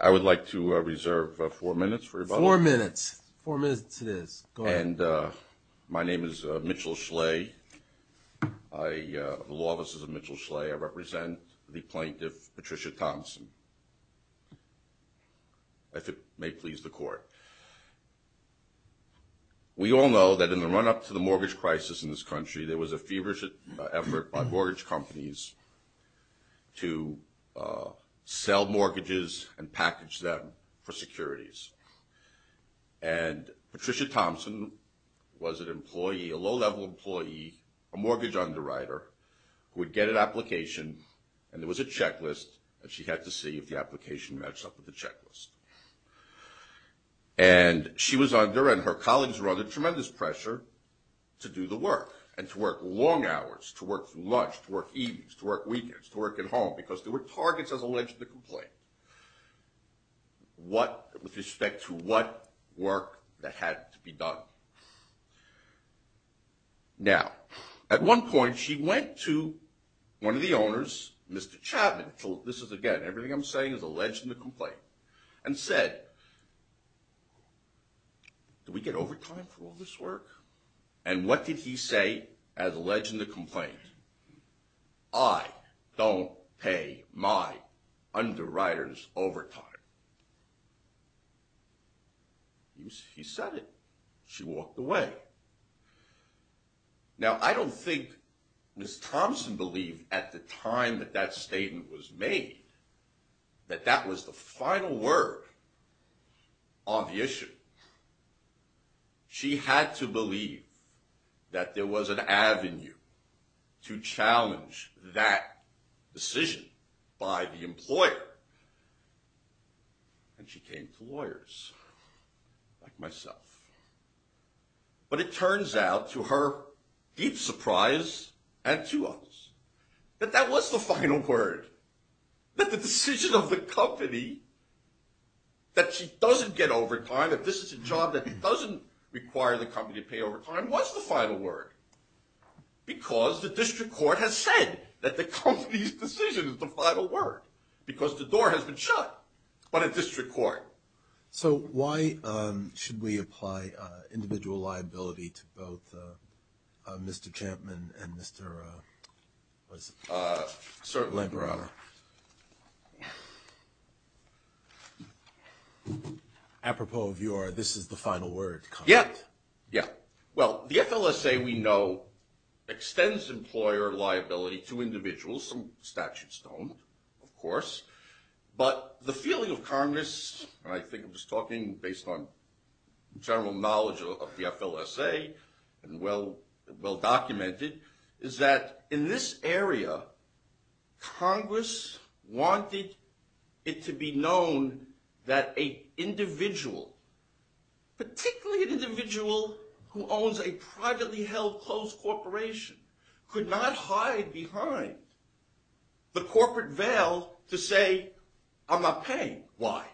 I would like to reserve four minutes. Four minutes. Four minutes it is. And my name is Mitchell Schley. The Law Offices of Mitchell Schley. I represent the plaintiff, Patricia Thompson. If it may please the court. We all know that in the run-up to the mortgage crisis in this country, there was a feverish effort by mortgage companies to sell mortgages and package them for securities. And Patricia Thompson was an employee, a low-level employee, a mortgage underwriter, who would get an application and there was a checklist and she had to see if the application matched up with the checklist. And she was under, and her colleagues were under, tremendous pressure to do the work and to work long hours, to work through lunch, to work evenings, to work weekends, to work at home because there were targets as alleged in the complaint with respect to what work that had to be done. Now, at one point she went to one of the owners, Mr. Chapman, this is again, everything I'm saying is alleged in the complaint, and said, do we get overtime for all this work? And what did he say as alleged in the complaint? I don't pay my underwriters overtime. He said it. She walked away. Now, I don't think Ms. Thompson believed at the time that that statement was made that that was the final word on the issue. She had to believe that there was an avenue to challenge that decision by the employer. And she came to lawyers like myself. But it turns out, to her deep surprise and to us, that that was the final word. That the decision of the company that she doesn't get overtime, that this is a job that doesn't require the company to pay overtime, was the final word. Because the district court has said that the company's decision is the final word. Because the door has been shut by the district court. So why should we apply individual liability to both Mr. Chapman and Mr. Lamparotta? Apropos of your this is the final word comment. Yeah, yeah. Well, the FLSA, we know, extends employer liability to individuals. Some statutes don't, of course. But the feeling of Congress, and I think I'm just talking based on general knowledge of the FLSA and well documented, is that in this area, Congress wanted it to be known that a individual, particularly an individual who owns a privately held closed corporation, could not hide behind the corporate veil to say, I'm not paying. Why?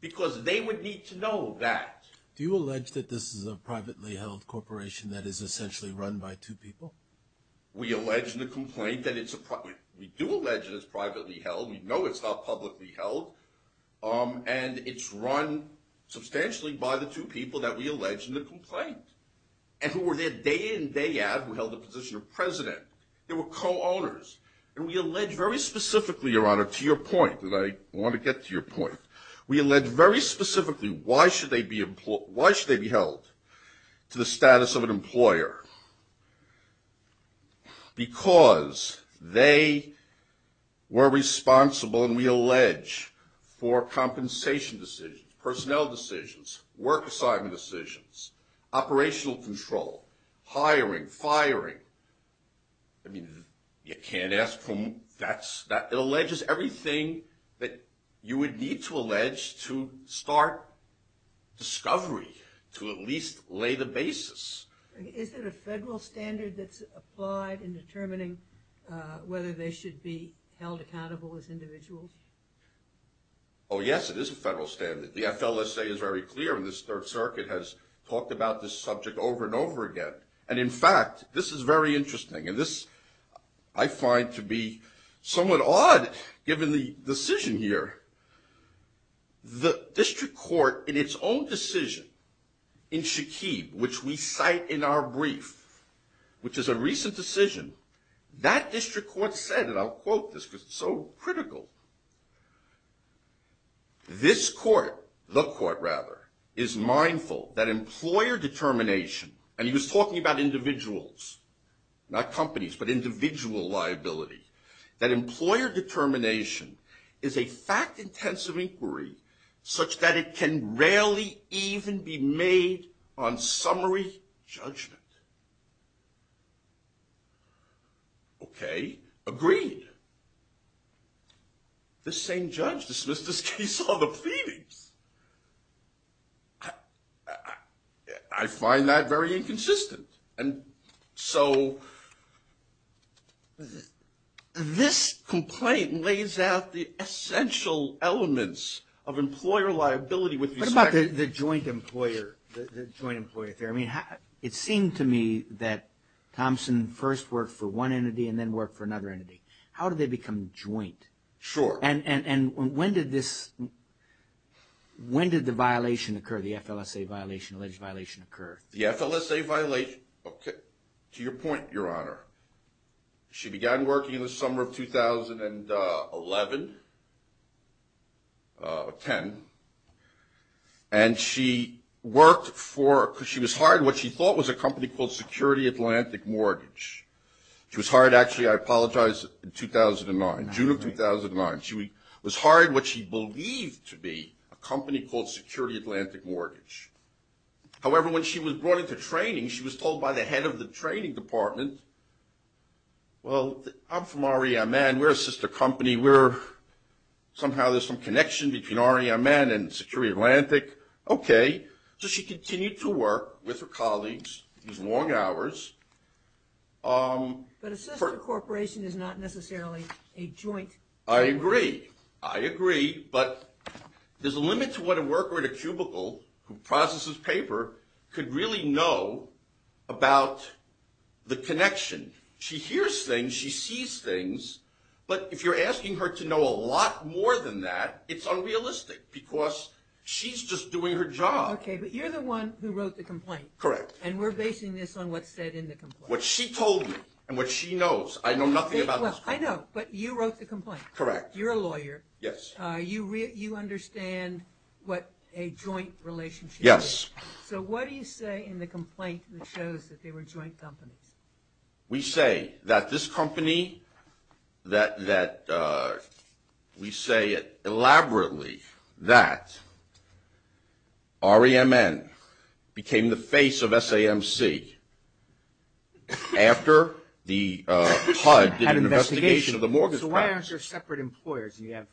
Because they would need to know that. Do you allege that this is a privately held corporation that is essentially run by two people? We allege in the complaint that it's a private. We do allege that it's privately held. We know it's not publicly held. And it's run substantially by the two people that we allege in the complaint, and who were there day in, day out, who held the position of president. They were co-owners. And we allege very specifically, Your Honor, to your point, and I want to get to your point, we allege very specifically, why should they be held to the status of an employer? Because they were responsible, and we allege, for compensation decisions, personnel decisions, work assignment decisions, operational control, hiring, firing. I mean, you can't ask for more. It alleges everything that you would need to allege to start discovery, to at least lay the basis. Is it a federal standard that's applied in determining whether they should be held accountable as individuals? Oh, yes, it is a federal standard. The FLSA is very clear on this. Third Circuit has talked about this subject over and over again. And in fact, this is very interesting. And this, I find to be somewhat odd, given the decision here. The district court, in its own decision, in Shaqib, which we cite in our brief, which is a recent decision, that district court said, and I'll quote this because it's so critical, this court, the court rather, is mindful that employer determination, and he was talking about individuals, not companies, but individual liability, that employer determination is a fact-intensive inquiry such that it can rarely even be made on summary judgment. Okay, agreed. The same judge dismissed this case on the pleadings. I find that very inconsistent. And so this complaint lays out the essential elements of employer liability. What about the joint employer, the joint employer theory? I mean, it seemed to me that Thompson first worked for one entity and then worked for another entity. How did they become joint? Sure. And when did this, when did the violation occur, the FLSA violation, alleged violation occur? The FLSA violation, okay, to your point, Your Honor, she began working in the summer of 2011, 10, and she worked for, because she was hired, what she thought was a company called Security Atlantic Mortgage. She was hired, actually, I apologize, in 2009, June of 2009. She was hired what she believed to be a company called Security Atlantic Mortgage. However, when she was brought into training, she was told by the head of the training department, well, I'm from R.E.M.N. But a sister corporation is not necessarily a joint. I agree, I agree, but there's a limit to what a worker at a cubicle who processes paper could really know about the connection. She hears things, she sees things, but if you're asking her to know a lot more than that, it's unrealistic, because she's just doing her job. Okay, but you're the one who wrote the complaint. Correct. And we're basing this on what's said in the complaint. What she told me and what she knows. I know nothing about this complaint. Well, I know, but you wrote the complaint. Correct. You're a lawyer. Yes. You understand what a joint relationship is. Yes. So what do you say in the complaint that shows that they were joint companies? We say that this company, that we say it elaborately, that R.E.M.N. became the face of SAMC after the HUD did an investigation of the mortgage practice. So why aren't there separate employers? You have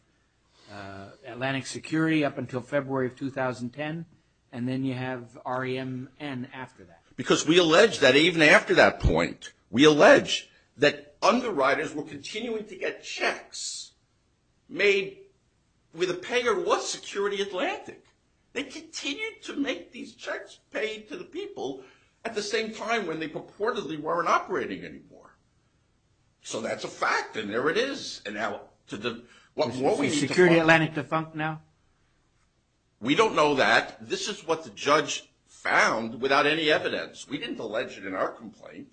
Atlantic Security up until February of 2010, and then you have R.E.M.N. after that. Because we allege that even after that point, we allege that underwriters were continuing to get checks made with a payer who was Security Atlantic. They continued to make these checks paid to the people at the same time when they purportedly weren't operating anymore. So that's a fact, and there it is. Is Security Atlantic defunct now? We don't know that. This is what the judge found without any evidence. We didn't allege it in our complaint.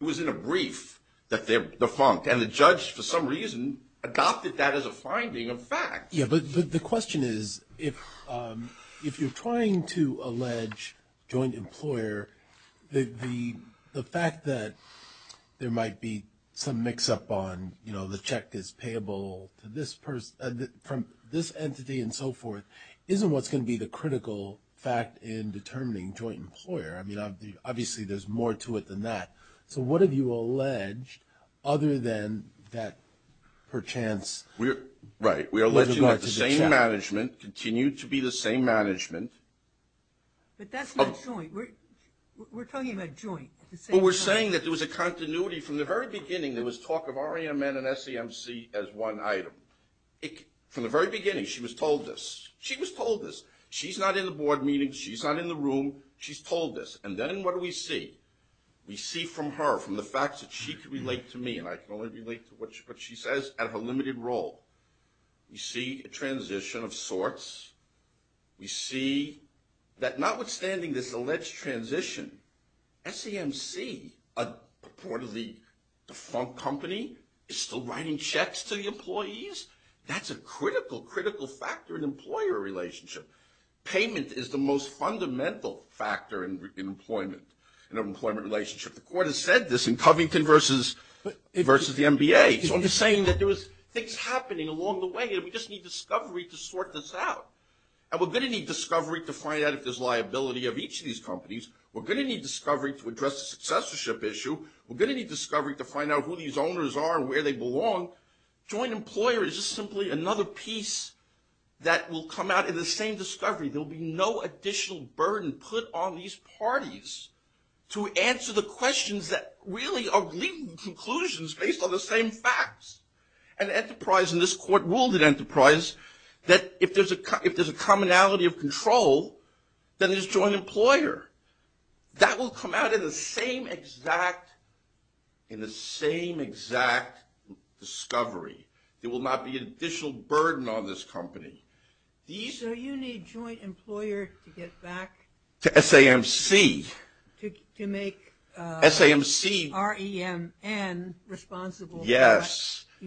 It was in a brief that they're defunct, and the judge, for some reason, adopted that as a finding of fact. Yeah, but the question is if you're trying to allege joint employer, the fact that there might be some mix-up on the check is payable to this person – from this entity and so forth isn't what's going to be the critical fact in determining joint employer. I mean, obviously, there's more to it than that. So what have you alleged other than that per chance? Right. We allege that the same management continued to be the same management. But that's not joint. We're talking about joint. But we're saying that there was a continuity. From the very beginning, there was talk of REMN and SEMC as one item. From the very beginning, she was told this. She was told this. She's not in the board meeting. She's not in the room. She's told this. And then what do we see? We see from her, from the fact that she can relate to me, and I can only relate to what she says, at her limited role. We see a transition of sorts. We see that notwithstanding this alleged transition, SEMC, a port of the defunct company, is still writing checks to the employees. That's a critical, critical factor in employer relationship. Payment is the most fundamental factor in employment, in an employment relationship. The court has said this in Covington versus the MBA. So I'm just saying that there was things happening along the way, and we just need discovery to sort this out. And we're going to need discovery to find out if there's liability of each of these companies. We're going to need discovery to address the successorship issue. We're going to need discovery to find out who these owners are and where they belong. Joint employer is just simply another piece that will come out in the same discovery. There will be no additional burden put on these parties to answer the questions that really are leading conclusions based on the same facts. And enterprise, and this court ruled in enterprise, that if there's a commonality of control, then there's joint employer. That will come out in the same exact discovery. There will not be an additional burden on this company. So you need joint employer to get back to SEMC to make REMN responsible for what you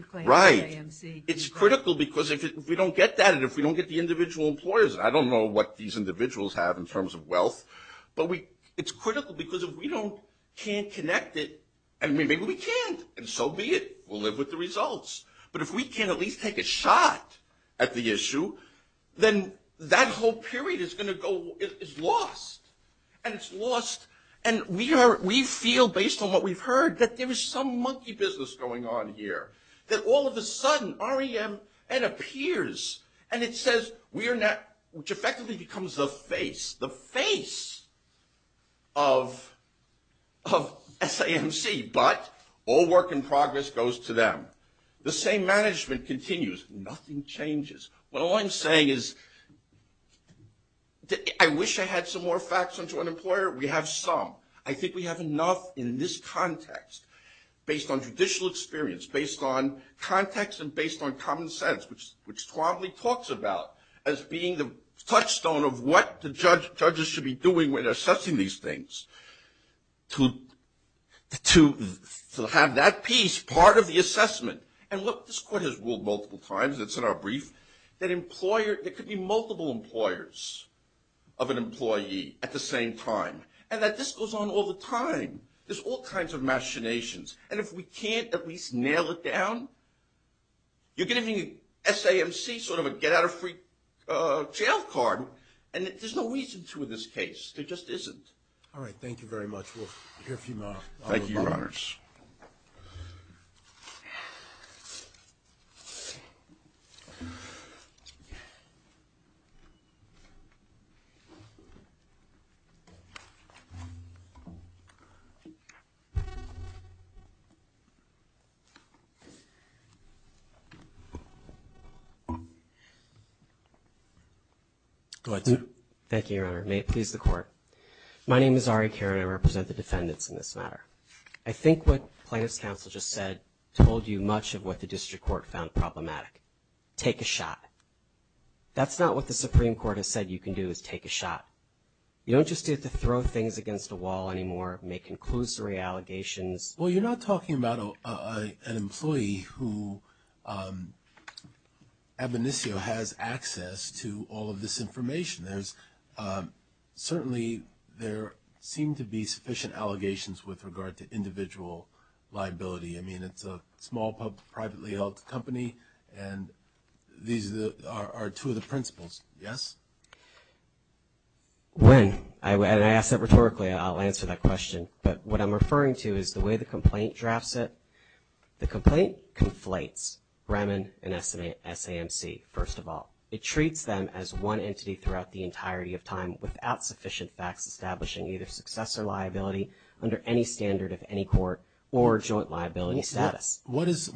claim is SEMC. Yes, right. It's critical because if we don't get that, and if we don't get the individual employers, and I don't know what these individuals have in terms of wealth, but it's critical because if we can't connect it, and maybe we can't, and so be it. We'll live with the results. But if we can't at least take a shot at the issue, then that whole period is going to go, it's lost. And it's lost, and we feel based on what we've heard that there is some monkey business going on here. That all of a sudden REMN appears, and it says we are not, which effectively becomes the face, the face of SEMC. But all work in progress goes to them. The same management continues. Nothing changes. Well, all I'm saying is I wish I had some more facts on joint employer. We have some. I think we have enough in this context based on judicial experience, based on context, and based on common sense, which Twadley talks about as being the touchstone of what the judges should be doing when assessing these things to have that piece part of the assessment. And look, this court has ruled multiple times, it's in our brief, that there could be multiple employers of an employee at the same time. And that this goes on all the time. There's all kinds of machinations. And if we can't at least nail it down, you're giving SEMC sort of a get-out-of-free-jail card, and there's no reason to in this case. There just isn't. All right. Thank you very much. We'll hear from you now. Thank you, Your Honors. Go ahead. Thank you, Your Honor. May it please the Court. My name is Ari Caron. I represent the defendants in this matter. I think what plaintiff's counsel just said told you much of what the district court found problematic. Take a shot. That's not what the Supreme Court has said you can do is take a shot. You don't just have to throw things against a wall anymore, make conclusory allegations. Well, you're not talking about an employee who ab initio has access to all of this information. Certainly, there seem to be sufficient allegations with regard to individual liability. I mean, it's a small, privately held company, and these are two of the principles. Yes? When I ask that rhetorically, I'll answer that question. But what I'm referring to is the way the complaint drafts it. The complaint conflates Raman and SEMC, first of all. It treats them as one entity throughout the entirety of time without sufficient facts establishing either success or liability under any standard of any court or joint liability status. What is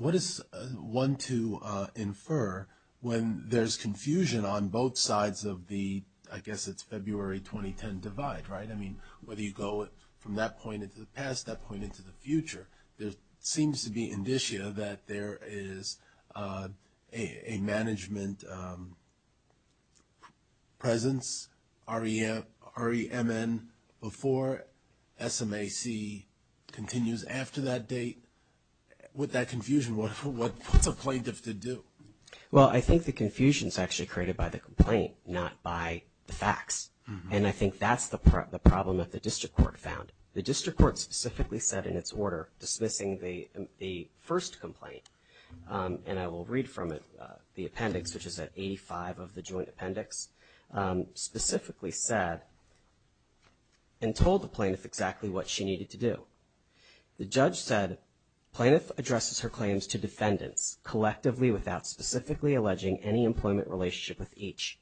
one to infer when there's confusion on both sides of the, I guess it's February 2010 divide, right? I mean, whether you go from that point into the past, that point into the future, there seems to be indicia that there is a management presence, REMN, before SEMC continues after that date. With that confusion, what's a plaintiff to do? Well, I think the confusion is actually created by the complaint, not by the facts. And I think that's the problem that the district court found. The district court specifically said in its order, dismissing the first complaint, and I will read from it, the appendix, which is at 85 of the joint appendix, specifically said and told the plaintiff exactly what she needed to do. The judge said, plaintiff addresses her claims to defendants collectively without specifically alleging any employment relationship with each.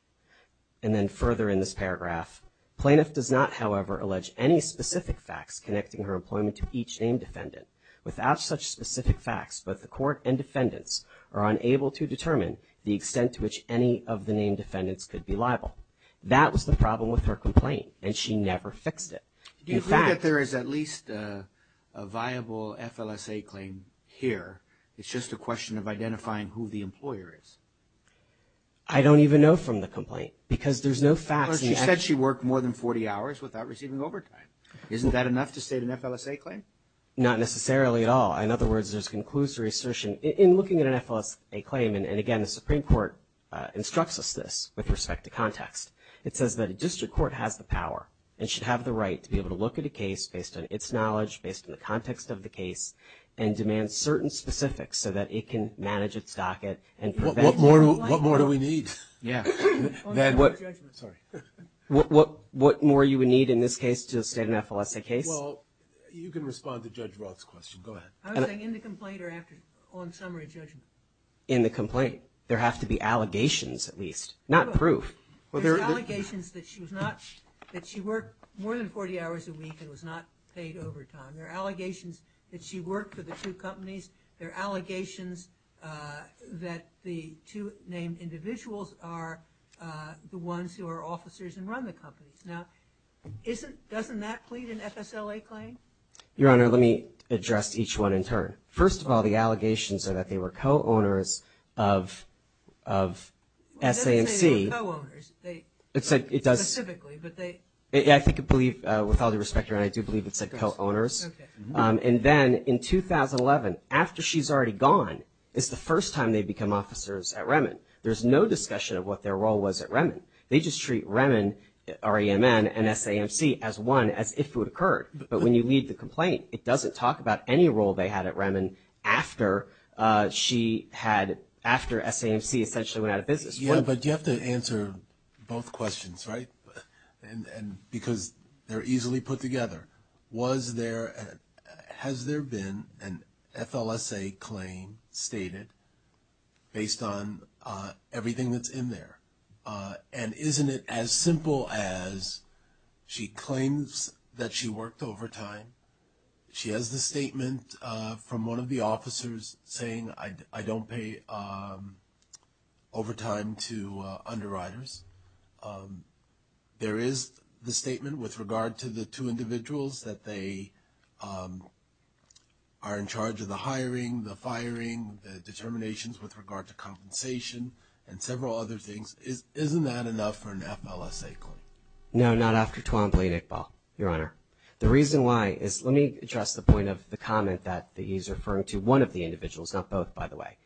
And then further in this paragraph, plaintiff does not, however, allege any specific facts connecting her employment to each named defendant. Without such specific facts, both the court and defendants are unable to determine the extent to which any of the named defendants could be liable. That was the problem with her complaint, and she never fixed it. Do you think that there is at least a viable FLSA claim here? It's just a question of identifying who the employer is. I don't even know from the complaint because there's no facts. She said she worked more than 40 hours without receiving overtime. Isn't that enough to state an FLSA claim? Not necessarily at all. In other words, there's conclusive assertion in looking at an FLSA claim, and again, the Supreme Court instructs us this with respect to context. It says that a district court has the power and should have the right to be able to look at a case based on its knowledge, based on the context of the case, and demand certain specifics so that it can manage its docket and prevent... What more do we need? Yeah. Sorry. What more you would need in this case to state an FLSA case? Well, you can respond to Judge Roth's question. Go ahead. I was saying in the complaint or on summary judgment? In the complaint. There have to be allegations at least, not proof. There's allegations that she worked more than 40 hours a week and was not paid overtime. There are allegations that she worked for the two companies. There are allegations that the two named individuals are the ones who are officers and run the companies. Now, doesn't that plead an FSLA claim? Your Honor, let me address each one in turn. First of all, the allegations are that they were co-owners of SAMC. It doesn't say they were co-owners specifically, but they... I think I believe, with all due respect, Your Honor, I do believe it said co-owners. Okay. And then in 2011, after she's already gone, it's the first time they've become officers at Remin. There's no discussion of what their role was at Remin. They just treat Remin, REMN, and SAMC as one, as if it would occur. But when you read the complaint, it doesn't talk about any role they had at Remin after she had, after SAMC essentially went out of business. Yeah, but you have to answer both questions, right? Because they're easily put together. Was there, has there been an FLSA claim stated based on everything that's in there? And isn't it as simple as she claims that she worked overtime, she has the statement from one of the officers saying, I don't pay overtime to underwriters. There is the statement with regard to the two individuals that they are in charge of the hiring, the firing, the determinations with regard to compensation, and several other things. Isn't that enough for an FLSA claim? No, not after Twombly, Nick Ball, Your Honor. The reason why is, let me address the point of the comment that he's referring to one of the individuals, not both, by the way.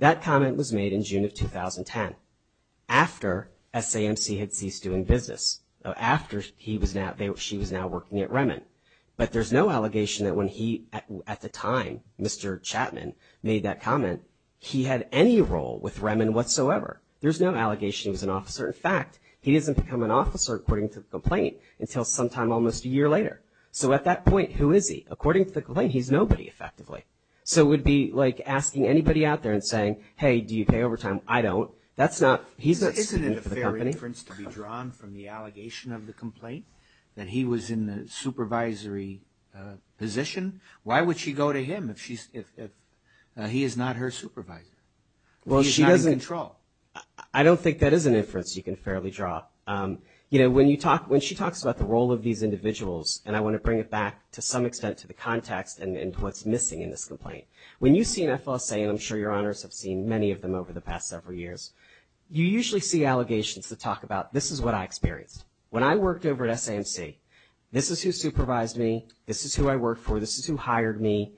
That comment was made in June of 2010, after SAMC had ceased doing business, after he was now, she was now working at Remin. But there's no allegation that when he, at the time, Mr. Chapman made that comment, he had any role with Remin whatsoever. There's no allegation he was an officer. In fact, he doesn't become an officer according to the complaint until sometime almost a year later. So at that point, who is he? According to the complaint, he's nobody effectively. So it would be like asking anybody out there and saying, hey, do you pay overtime? I don't. That's not, he's not speaking for the company. Isn't it a fair inference to be drawn from the allegation of the complaint, that he was in the supervisory position? Why would she go to him if he is not her supervisor? He is not in control. I don't think that is an inference you can fairly draw. You know, when you talk, when she talks about the role of these individuals, and I want to bring it back to some extent to the context and what's missing in this complaint. When you see an FLSA, and I'm sure your honors have seen many of them over the past several years, you usually see allegations that talk about this is what I experienced. When I worked over at SAMC, this is who supervised me. This is who I worked for. This is who hired me.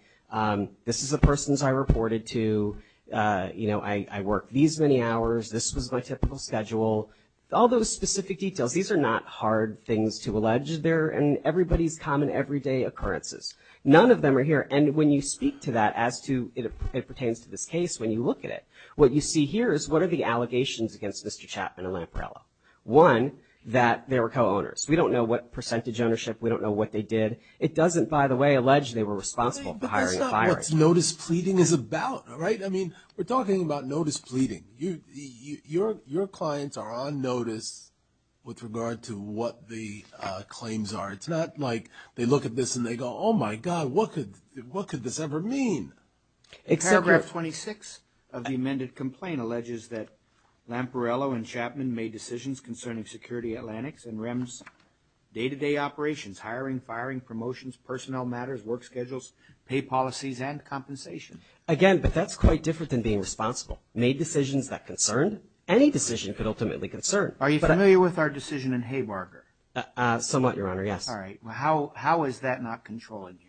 This is the persons I reported to. You know, I worked these many hours. This was my typical schedule. All those specific details, these are not hard things to allege. They're in everybody's common everyday occurrences. None of them are here. And when you speak to that as to it pertains to this case, when you look at it, what you see here is what are the allegations against Mr. Chapman and Lamparello. One, that they were co-owners. We don't know what percentage ownership. We don't know what they did. It doesn't, by the way, allege they were responsible for hiring and firing. But that's not what notice pleading is about, right? I mean, we're talking about notice pleading. Your clients are on notice with regard to what the claims are. It's not like they look at this and they go, oh, my God, what could this ever mean? Paragraph 26 of the amended complaint alleges that Lamparello and Chapman made decisions concerning Security Atlantic's and REM's day-to-day operations, hiring, firing, promotions, personnel matters, work schedules, pay policies, and compensation. Again, but that's quite different than being responsible. Lamparello made decisions that concerned. Any decision could ultimately concern. Are you familiar with our decision in Haymarger? Somewhat, Your Honor, yes. All right. How is that not controlling here?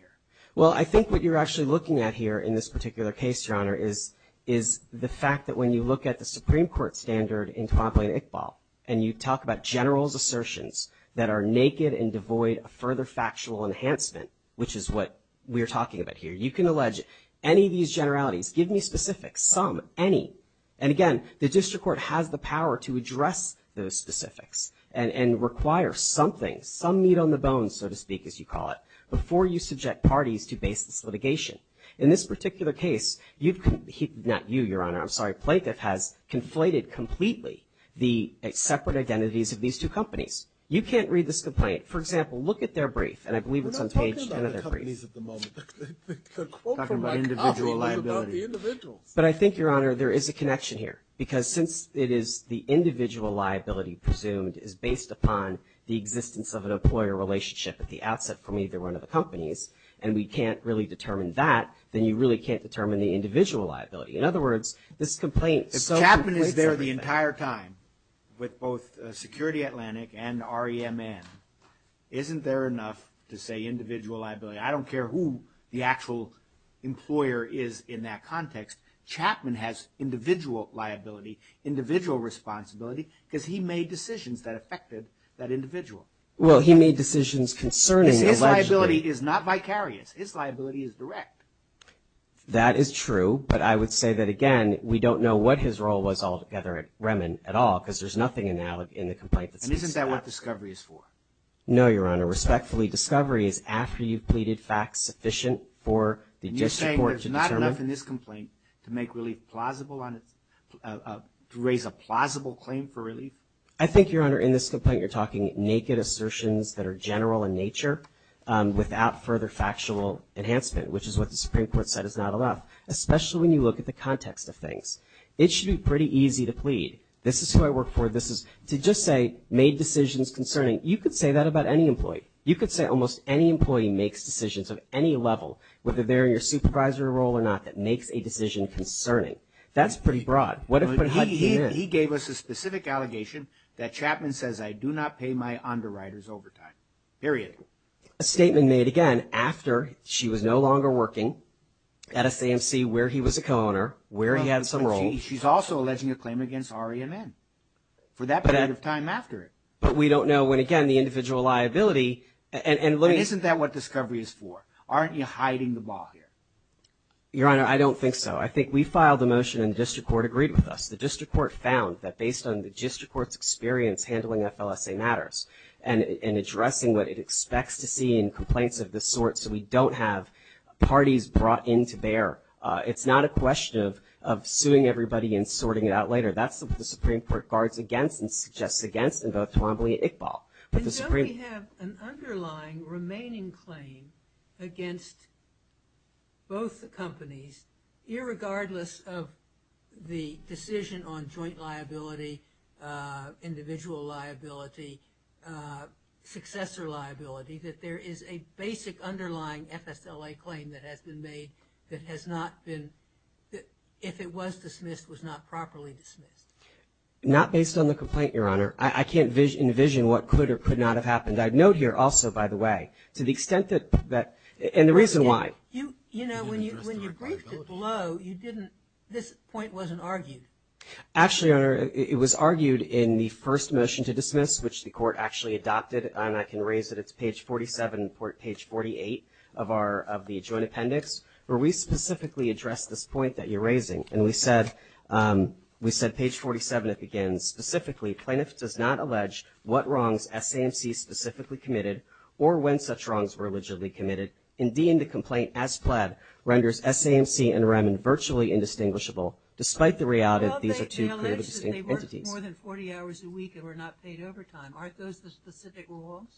Well, I think what you're actually looking at here in this particular case, Your Honor, is the fact that when you look at the Supreme Court standard in Twombly and Iqbal and you talk about generals' assertions that are naked and devoid of further factual enhancement, which is what we're talking about here, you can allege any of these generalities. Give me specifics. Some, any. And again, the district court has the power to address those specifics and require something, some meat on the bones, so to speak, as you call it, before you subject parties to baseless litigation. In this particular case, you've, not you, Your Honor, I'm sorry, plaintiff has conflated completely the separate identities of these two companies. You can't read this complaint. The quote from my copy is about the individuals. But I think, Your Honor, there is a connection here because since it is the individual liability presumed is based upon the existence of an employer relationship at the outset from either one of the companies and we can't really determine that, then you really can't determine the individual liability. In other words, this complaint so conflates everything. If Chapman is there the entire time with both Security Atlantic and REMN, isn't there enough to say individual liability? I don't care who the actual employer is in that context. Chapman has individual liability, individual responsibility, because he made decisions that affected that individual. Well, he made decisions concerning allegedly. His liability is not vicarious. His liability is direct. That is true. But I would say that, again, we don't know what his role was altogether at REMN at all because there's nothing in the complaint that says Chapman. And isn't that what discovery is for? No, Your Honor. Respectfully, discovery is after you've pleaded facts sufficient for the district court to determine. You're saying there's not enough in this complaint to make relief plausible, to raise a plausible claim for relief? I think, Your Honor, in this complaint you're talking naked assertions that are general in nature without further factual enhancement, which is what the Supreme Court said is not enough, especially when you look at the context of things. It should be pretty easy to plead. This is who I work for. This is to just say made decisions concerning. And you could say that about any employee. You could say almost any employee makes decisions of any level, whether they're in your supervisory role or not, that makes a decision concerning. That's pretty broad. He gave us a specific allegation that Chapman says, I do not pay my underwriters overtime, period. A statement made, again, after she was no longer working at SAMC where he was a co-owner, where he had some role. She's also alleging a claim against REMN for that period of time after. But we don't know when, again, the individual liability. Isn't that what discovery is for? Aren't you hiding the ball here? Your Honor, I don't think so. I think we filed the motion and the district court agreed with us. The district court found that based on the district court's experience handling FLSA matters and addressing what it expects to see in complaints of this sort so we don't have parties brought in to bear, it's not a question of suing everybody and sorting it out later. That's what the Supreme Court guards against and suggests against in both Tawamboli and Iqbal. And so we have an underlying remaining claim against both the companies, irregardless of the decision on joint liability, individual liability, successor liability, that there is a basic underlying FSLA claim that has been made that has not been, if it was dismissed, was not properly dismissed. Not based on the complaint, Your Honor. I can't envision what could or could not have happened. I'd note here also, by the way, to the extent that, and the reason why. You know, when you briefed it below, you didn't, this point wasn't argued. Actually, Your Honor, it was argued in the first motion to dismiss, which the court actually adopted, and I can raise it, it's page 47, page 48 of our, of the joint appendix, where we specifically address this point that you're raising. And we said, we said page 47, it begins, specifically plaintiff does not allege what wrongs SAMC specifically committed or when such wrongs were allegedly committed. Indeed, the complaint, as pled, renders SAMC and REM virtually indistinguishable, despite the reality that these are two clearly distinct entities. Well, they allege that they worked more than 40 hours a week and were not paid overtime. Aren't those the specific wrongs?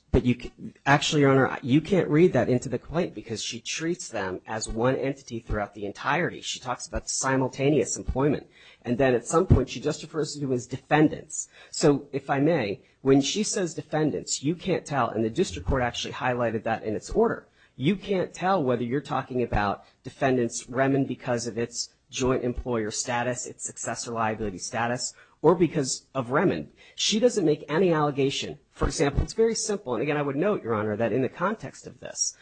Actually, Your Honor, you can't read that into the complaint because she treats them as one entity throughout the entirety. She talks about simultaneous employment. And then at some point, she just refers to them as defendants. So, if I may, when she says defendants, you can't tell, and the district court actually highlighted that in its order, you can't tell whether you're talking about defendants, REM and because of its joint employer status, its successor liability status, or because of REM. She doesn't make any allegation. For example, it's very simple, and again, I would note, Your Honor, that in the context of this,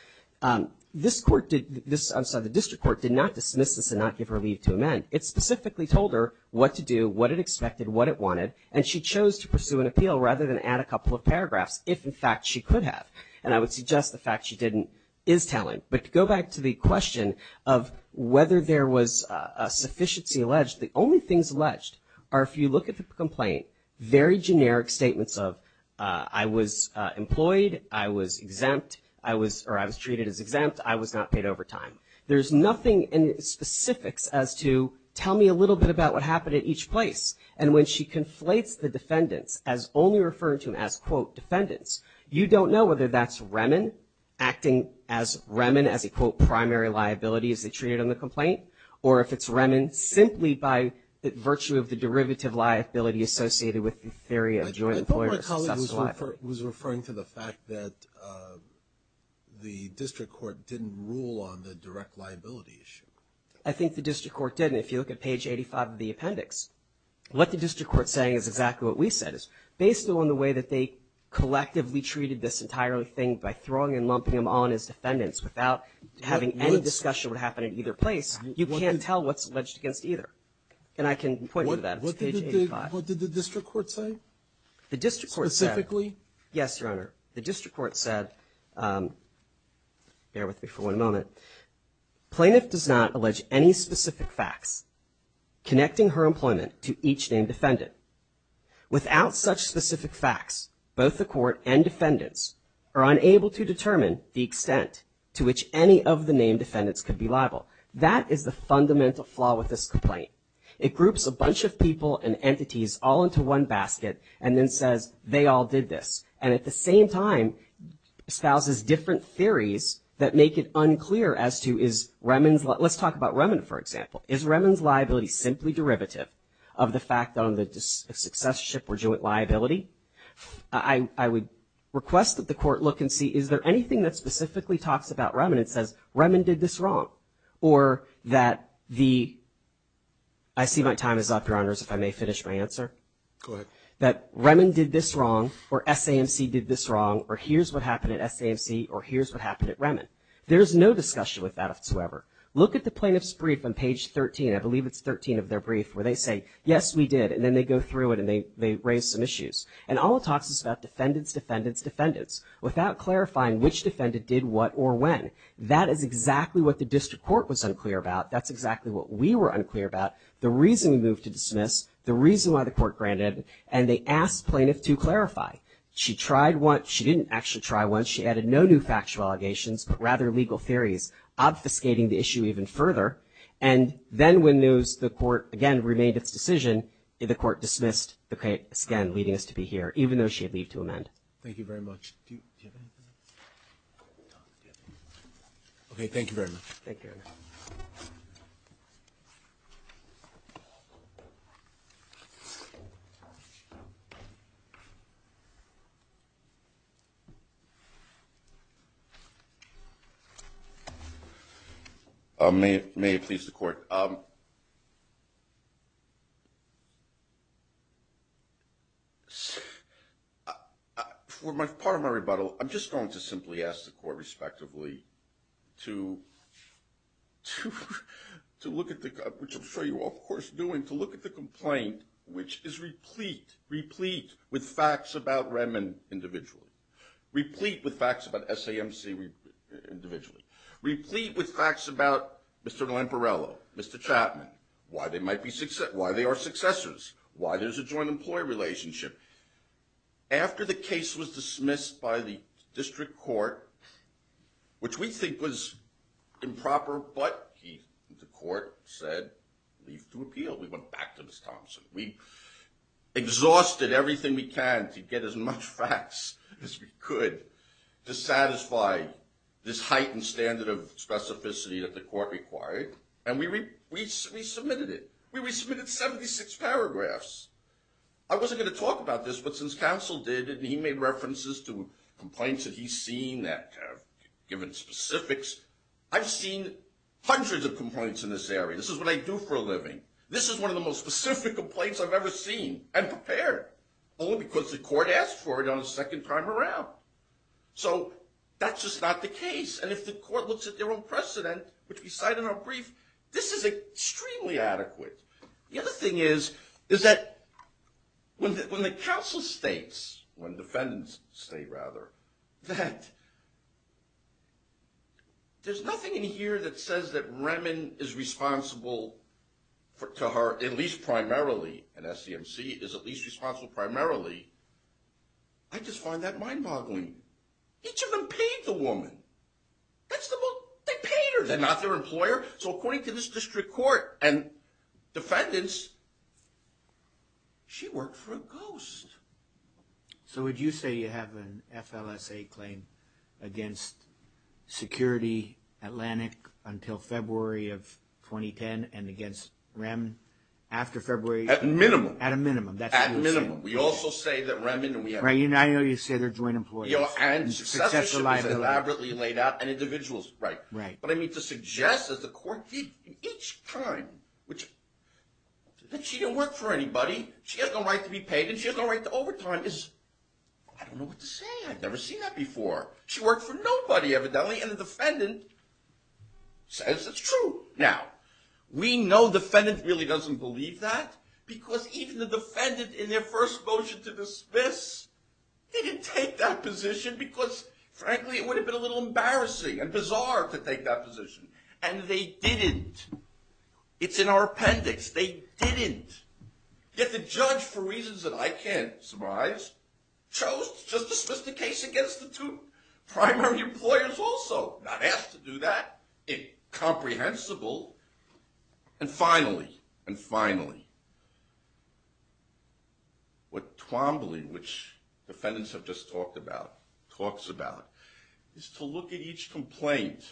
this court did, I'm sorry, the district court did not dismiss this and not give her leave to amend. It specifically told her what to do, what it expected, what it wanted, and she chose to pursue an appeal rather than add a couple of paragraphs, if in fact she could have. And I would suggest the fact she didn't is telling. But to go back to the question of whether there was a sufficiency alleged, the only things alleged are, if you look at the complaint, very generic statements of I was employed, I was exempt, or I was treated as exempt, I was not paid overtime. There's nothing in specifics as to tell me a little bit about what happened at each place. And when she conflates the defendants as only referring to them as, quote, defendants, you don't know whether that's REMN acting as REMN as a, quote, primary liability as they treated on the complaint, or if it's REMN simply by virtue of the derivative liability associated with the theory of joint employer's successful liability. I thought my colleague was referring to the fact that the district court didn't rule on the direct liability issue. I think the district court did. And if you look at page 85 of the appendix, what the district court is saying is exactly what we said, is based on the way that they collectively treated this entire thing by throwing and lumping them on as defendants without having any discussion what happened at either place, you can't tell what's alleged against either. And I can point you to that. It's page 85. What did the district court say? The district court said. Specifically? Yes, Your Honor. The district court said, bear with me for one moment. Plaintiff does not allege any specific facts connecting her employment to each named defendant. Without such specific facts, both the court and defendants are unable to determine the extent to which any of the named defendants could be liable. That is the fundamental flaw with this complaint. It groups a bunch of people and entities all into one basket and then says, they all did this. And at the same time, espouses different theories that make it unclear as to is Remen's, let's talk about Remen, for example. Is Remen's liability simply derivative of the fact on the success ship or joint liability? I would request that the court look and see, is there anything that specifically talks about Remen and says, Remen did this wrong? Or that the, I see my time is up, Your Honors, if I may finish my answer. Go ahead. That Remen did this wrong or SAMC did this wrong or here's what happened at SAMC or here's what happened at Remen. There's no discussion with that whatsoever. Look at the plaintiff's brief on page 13. I believe it's 13 of their brief where they say, yes, we did. And then they go through it and they raise some issues. And all it talks is about defendants, defendants, defendants, without clarifying which defendant did what or when. That is exactly what the district court was unclear about. That's exactly what we were unclear about. The reason we moved to dismiss, the reason why the court granted, and they asked plaintiff to clarify. She tried once. She didn't actually try once. She added no new factual allegations, but rather legal theories obfuscating the issue even further. And then when the court, again, remade its decision, the court dismissed the case, again, leading us to be here, even though she had leave to amend. Thank you very much. Okay, thank you very much. Thank you. Thank you. May it please the court. For my part of my rebuttal, I'm just going to simply ask the court respectively to look at the, which I'm sure you all of course are doing, to look at the complaint, which is replete, replete with facts about Redmond individually, replete with facts about SAMC individually, replete with facts about Mr. Lamparello, Mr. Chapman, why they are successors, why there's a joint employee relationship. After the case was dismissed by the district court, which we think was improper, but the court said leave to appeal. We went back to Ms. Thompson. We exhausted everything we can to get as much facts as we could to satisfy this heightened standard of specificity that the court required, and we submitted it. We resubmitted 76 paragraphs. I wasn't going to talk about this, but since counsel did and he made references to complaints that he's seen that have given specifics, I've seen hundreds of complaints in this area. This is what I do for a living. This is one of the most specific complaints I've ever seen and prepared, only because the court asked for it on the second time around. So that's just not the case, and if the court looks at their own precedent, which we cite in our brief, this is extremely adequate. The other thing is, is that when the counsel states, when defendants state rather, that there's nothing in here that says that Remen is responsible to her, at least primarily, and SCMC is at least responsible primarily. I just find that mind-boggling. Each of them paid the woman. That's the most, they paid her. They're not their employer, so according to this district court and defendants, she worked for a ghost. So would you say you have an FLSA claim against security Atlantic until February of 2010 and against Remen after February? At minimum. At a minimum, that's what you're saying. At minimum. We also say that Remen and we have. Right, I know you say they're joint employees. And successorship is elaborately laid out and individuals. Right. Right. But I mean to suggest that the court did each time, that she didn't work for anybody, she has no right to be paid, and she has no right to overtime is, I don't know what to say. I've never seen that before. She worked for nobody evidently, and the defendant says it's true. Now, we know defendants really doesn't believe that because even the defendant in their first motion to dismiss didn't take that position because frankly, it would have been a little embarrassing and bizarre to take that position, and they didn't. It's in our appendix. They didn't. Yet the judge, for reasons that I can't surmise, chose to dismiss the case against the two primary employers also. Not asked to do that. Incomprehensible. And finally, and finally, what Twombly, which defendants have just talked about, talks about, is to look at each complaint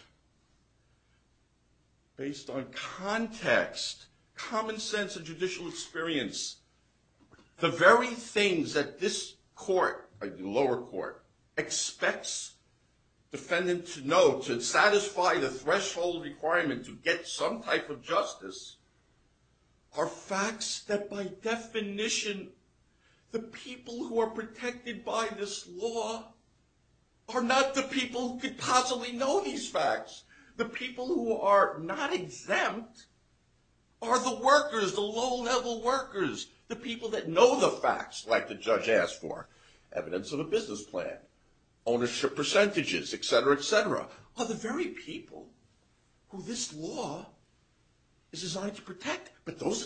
based on context, common sense and judicial experience. The very things that this court, the lower court, expects defendant to know to satisfy the threshold requirement to get some type of justice are facts that by definition the people who are protected by this law are not the people who could possibly know these facts. The people who are not exempt are the workers, the low-level workers, the people that know the facts, like the judge asked for, evidence of a business plan, ownership percentages, etc., etc., but those are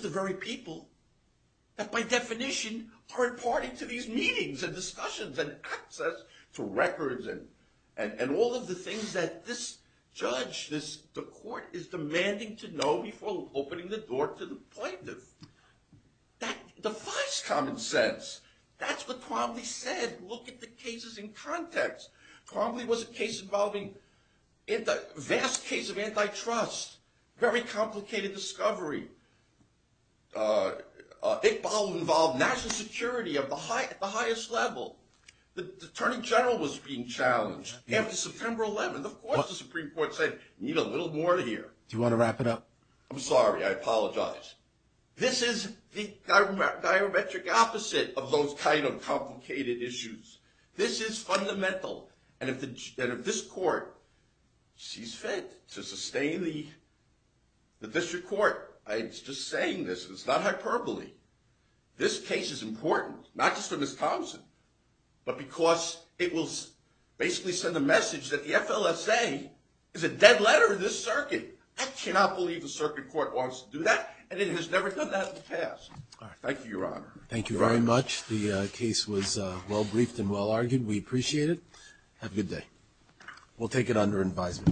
the very people that by definition are imparting to these meetings and discussions and access to records and all of the things that this judge, the court, is demanding to know before opening the door to the plaintiff. That defies common sense. That's what Twombly said. Look at the cases in context. Twombly was a case involving a vast case of antitrust, very complicated discovery. It involved national security at the highest level. The attorney general was being challenged after September 11th. Of course the Supreme Court said, need a little more here. Do you want to wrap it up? I'm sorry. I apologize. This is the diametric opposite of those kind of complicated issues. This is fundamental. And if this court sees fit to sustain the district court, it's just saying this, it's not hyperbole. This case is important, not just for Ms. Thompson, but because it will basically send the message that the FLSA is a dead letter to this circuit. I cannot believe the circuit court wants to do that, and it has never done that in the past. Thank you, Your Honor. Thank you very much. The case was well-briefed and well-argued. We appreciate it. Have a good day. We'll take it under advisement.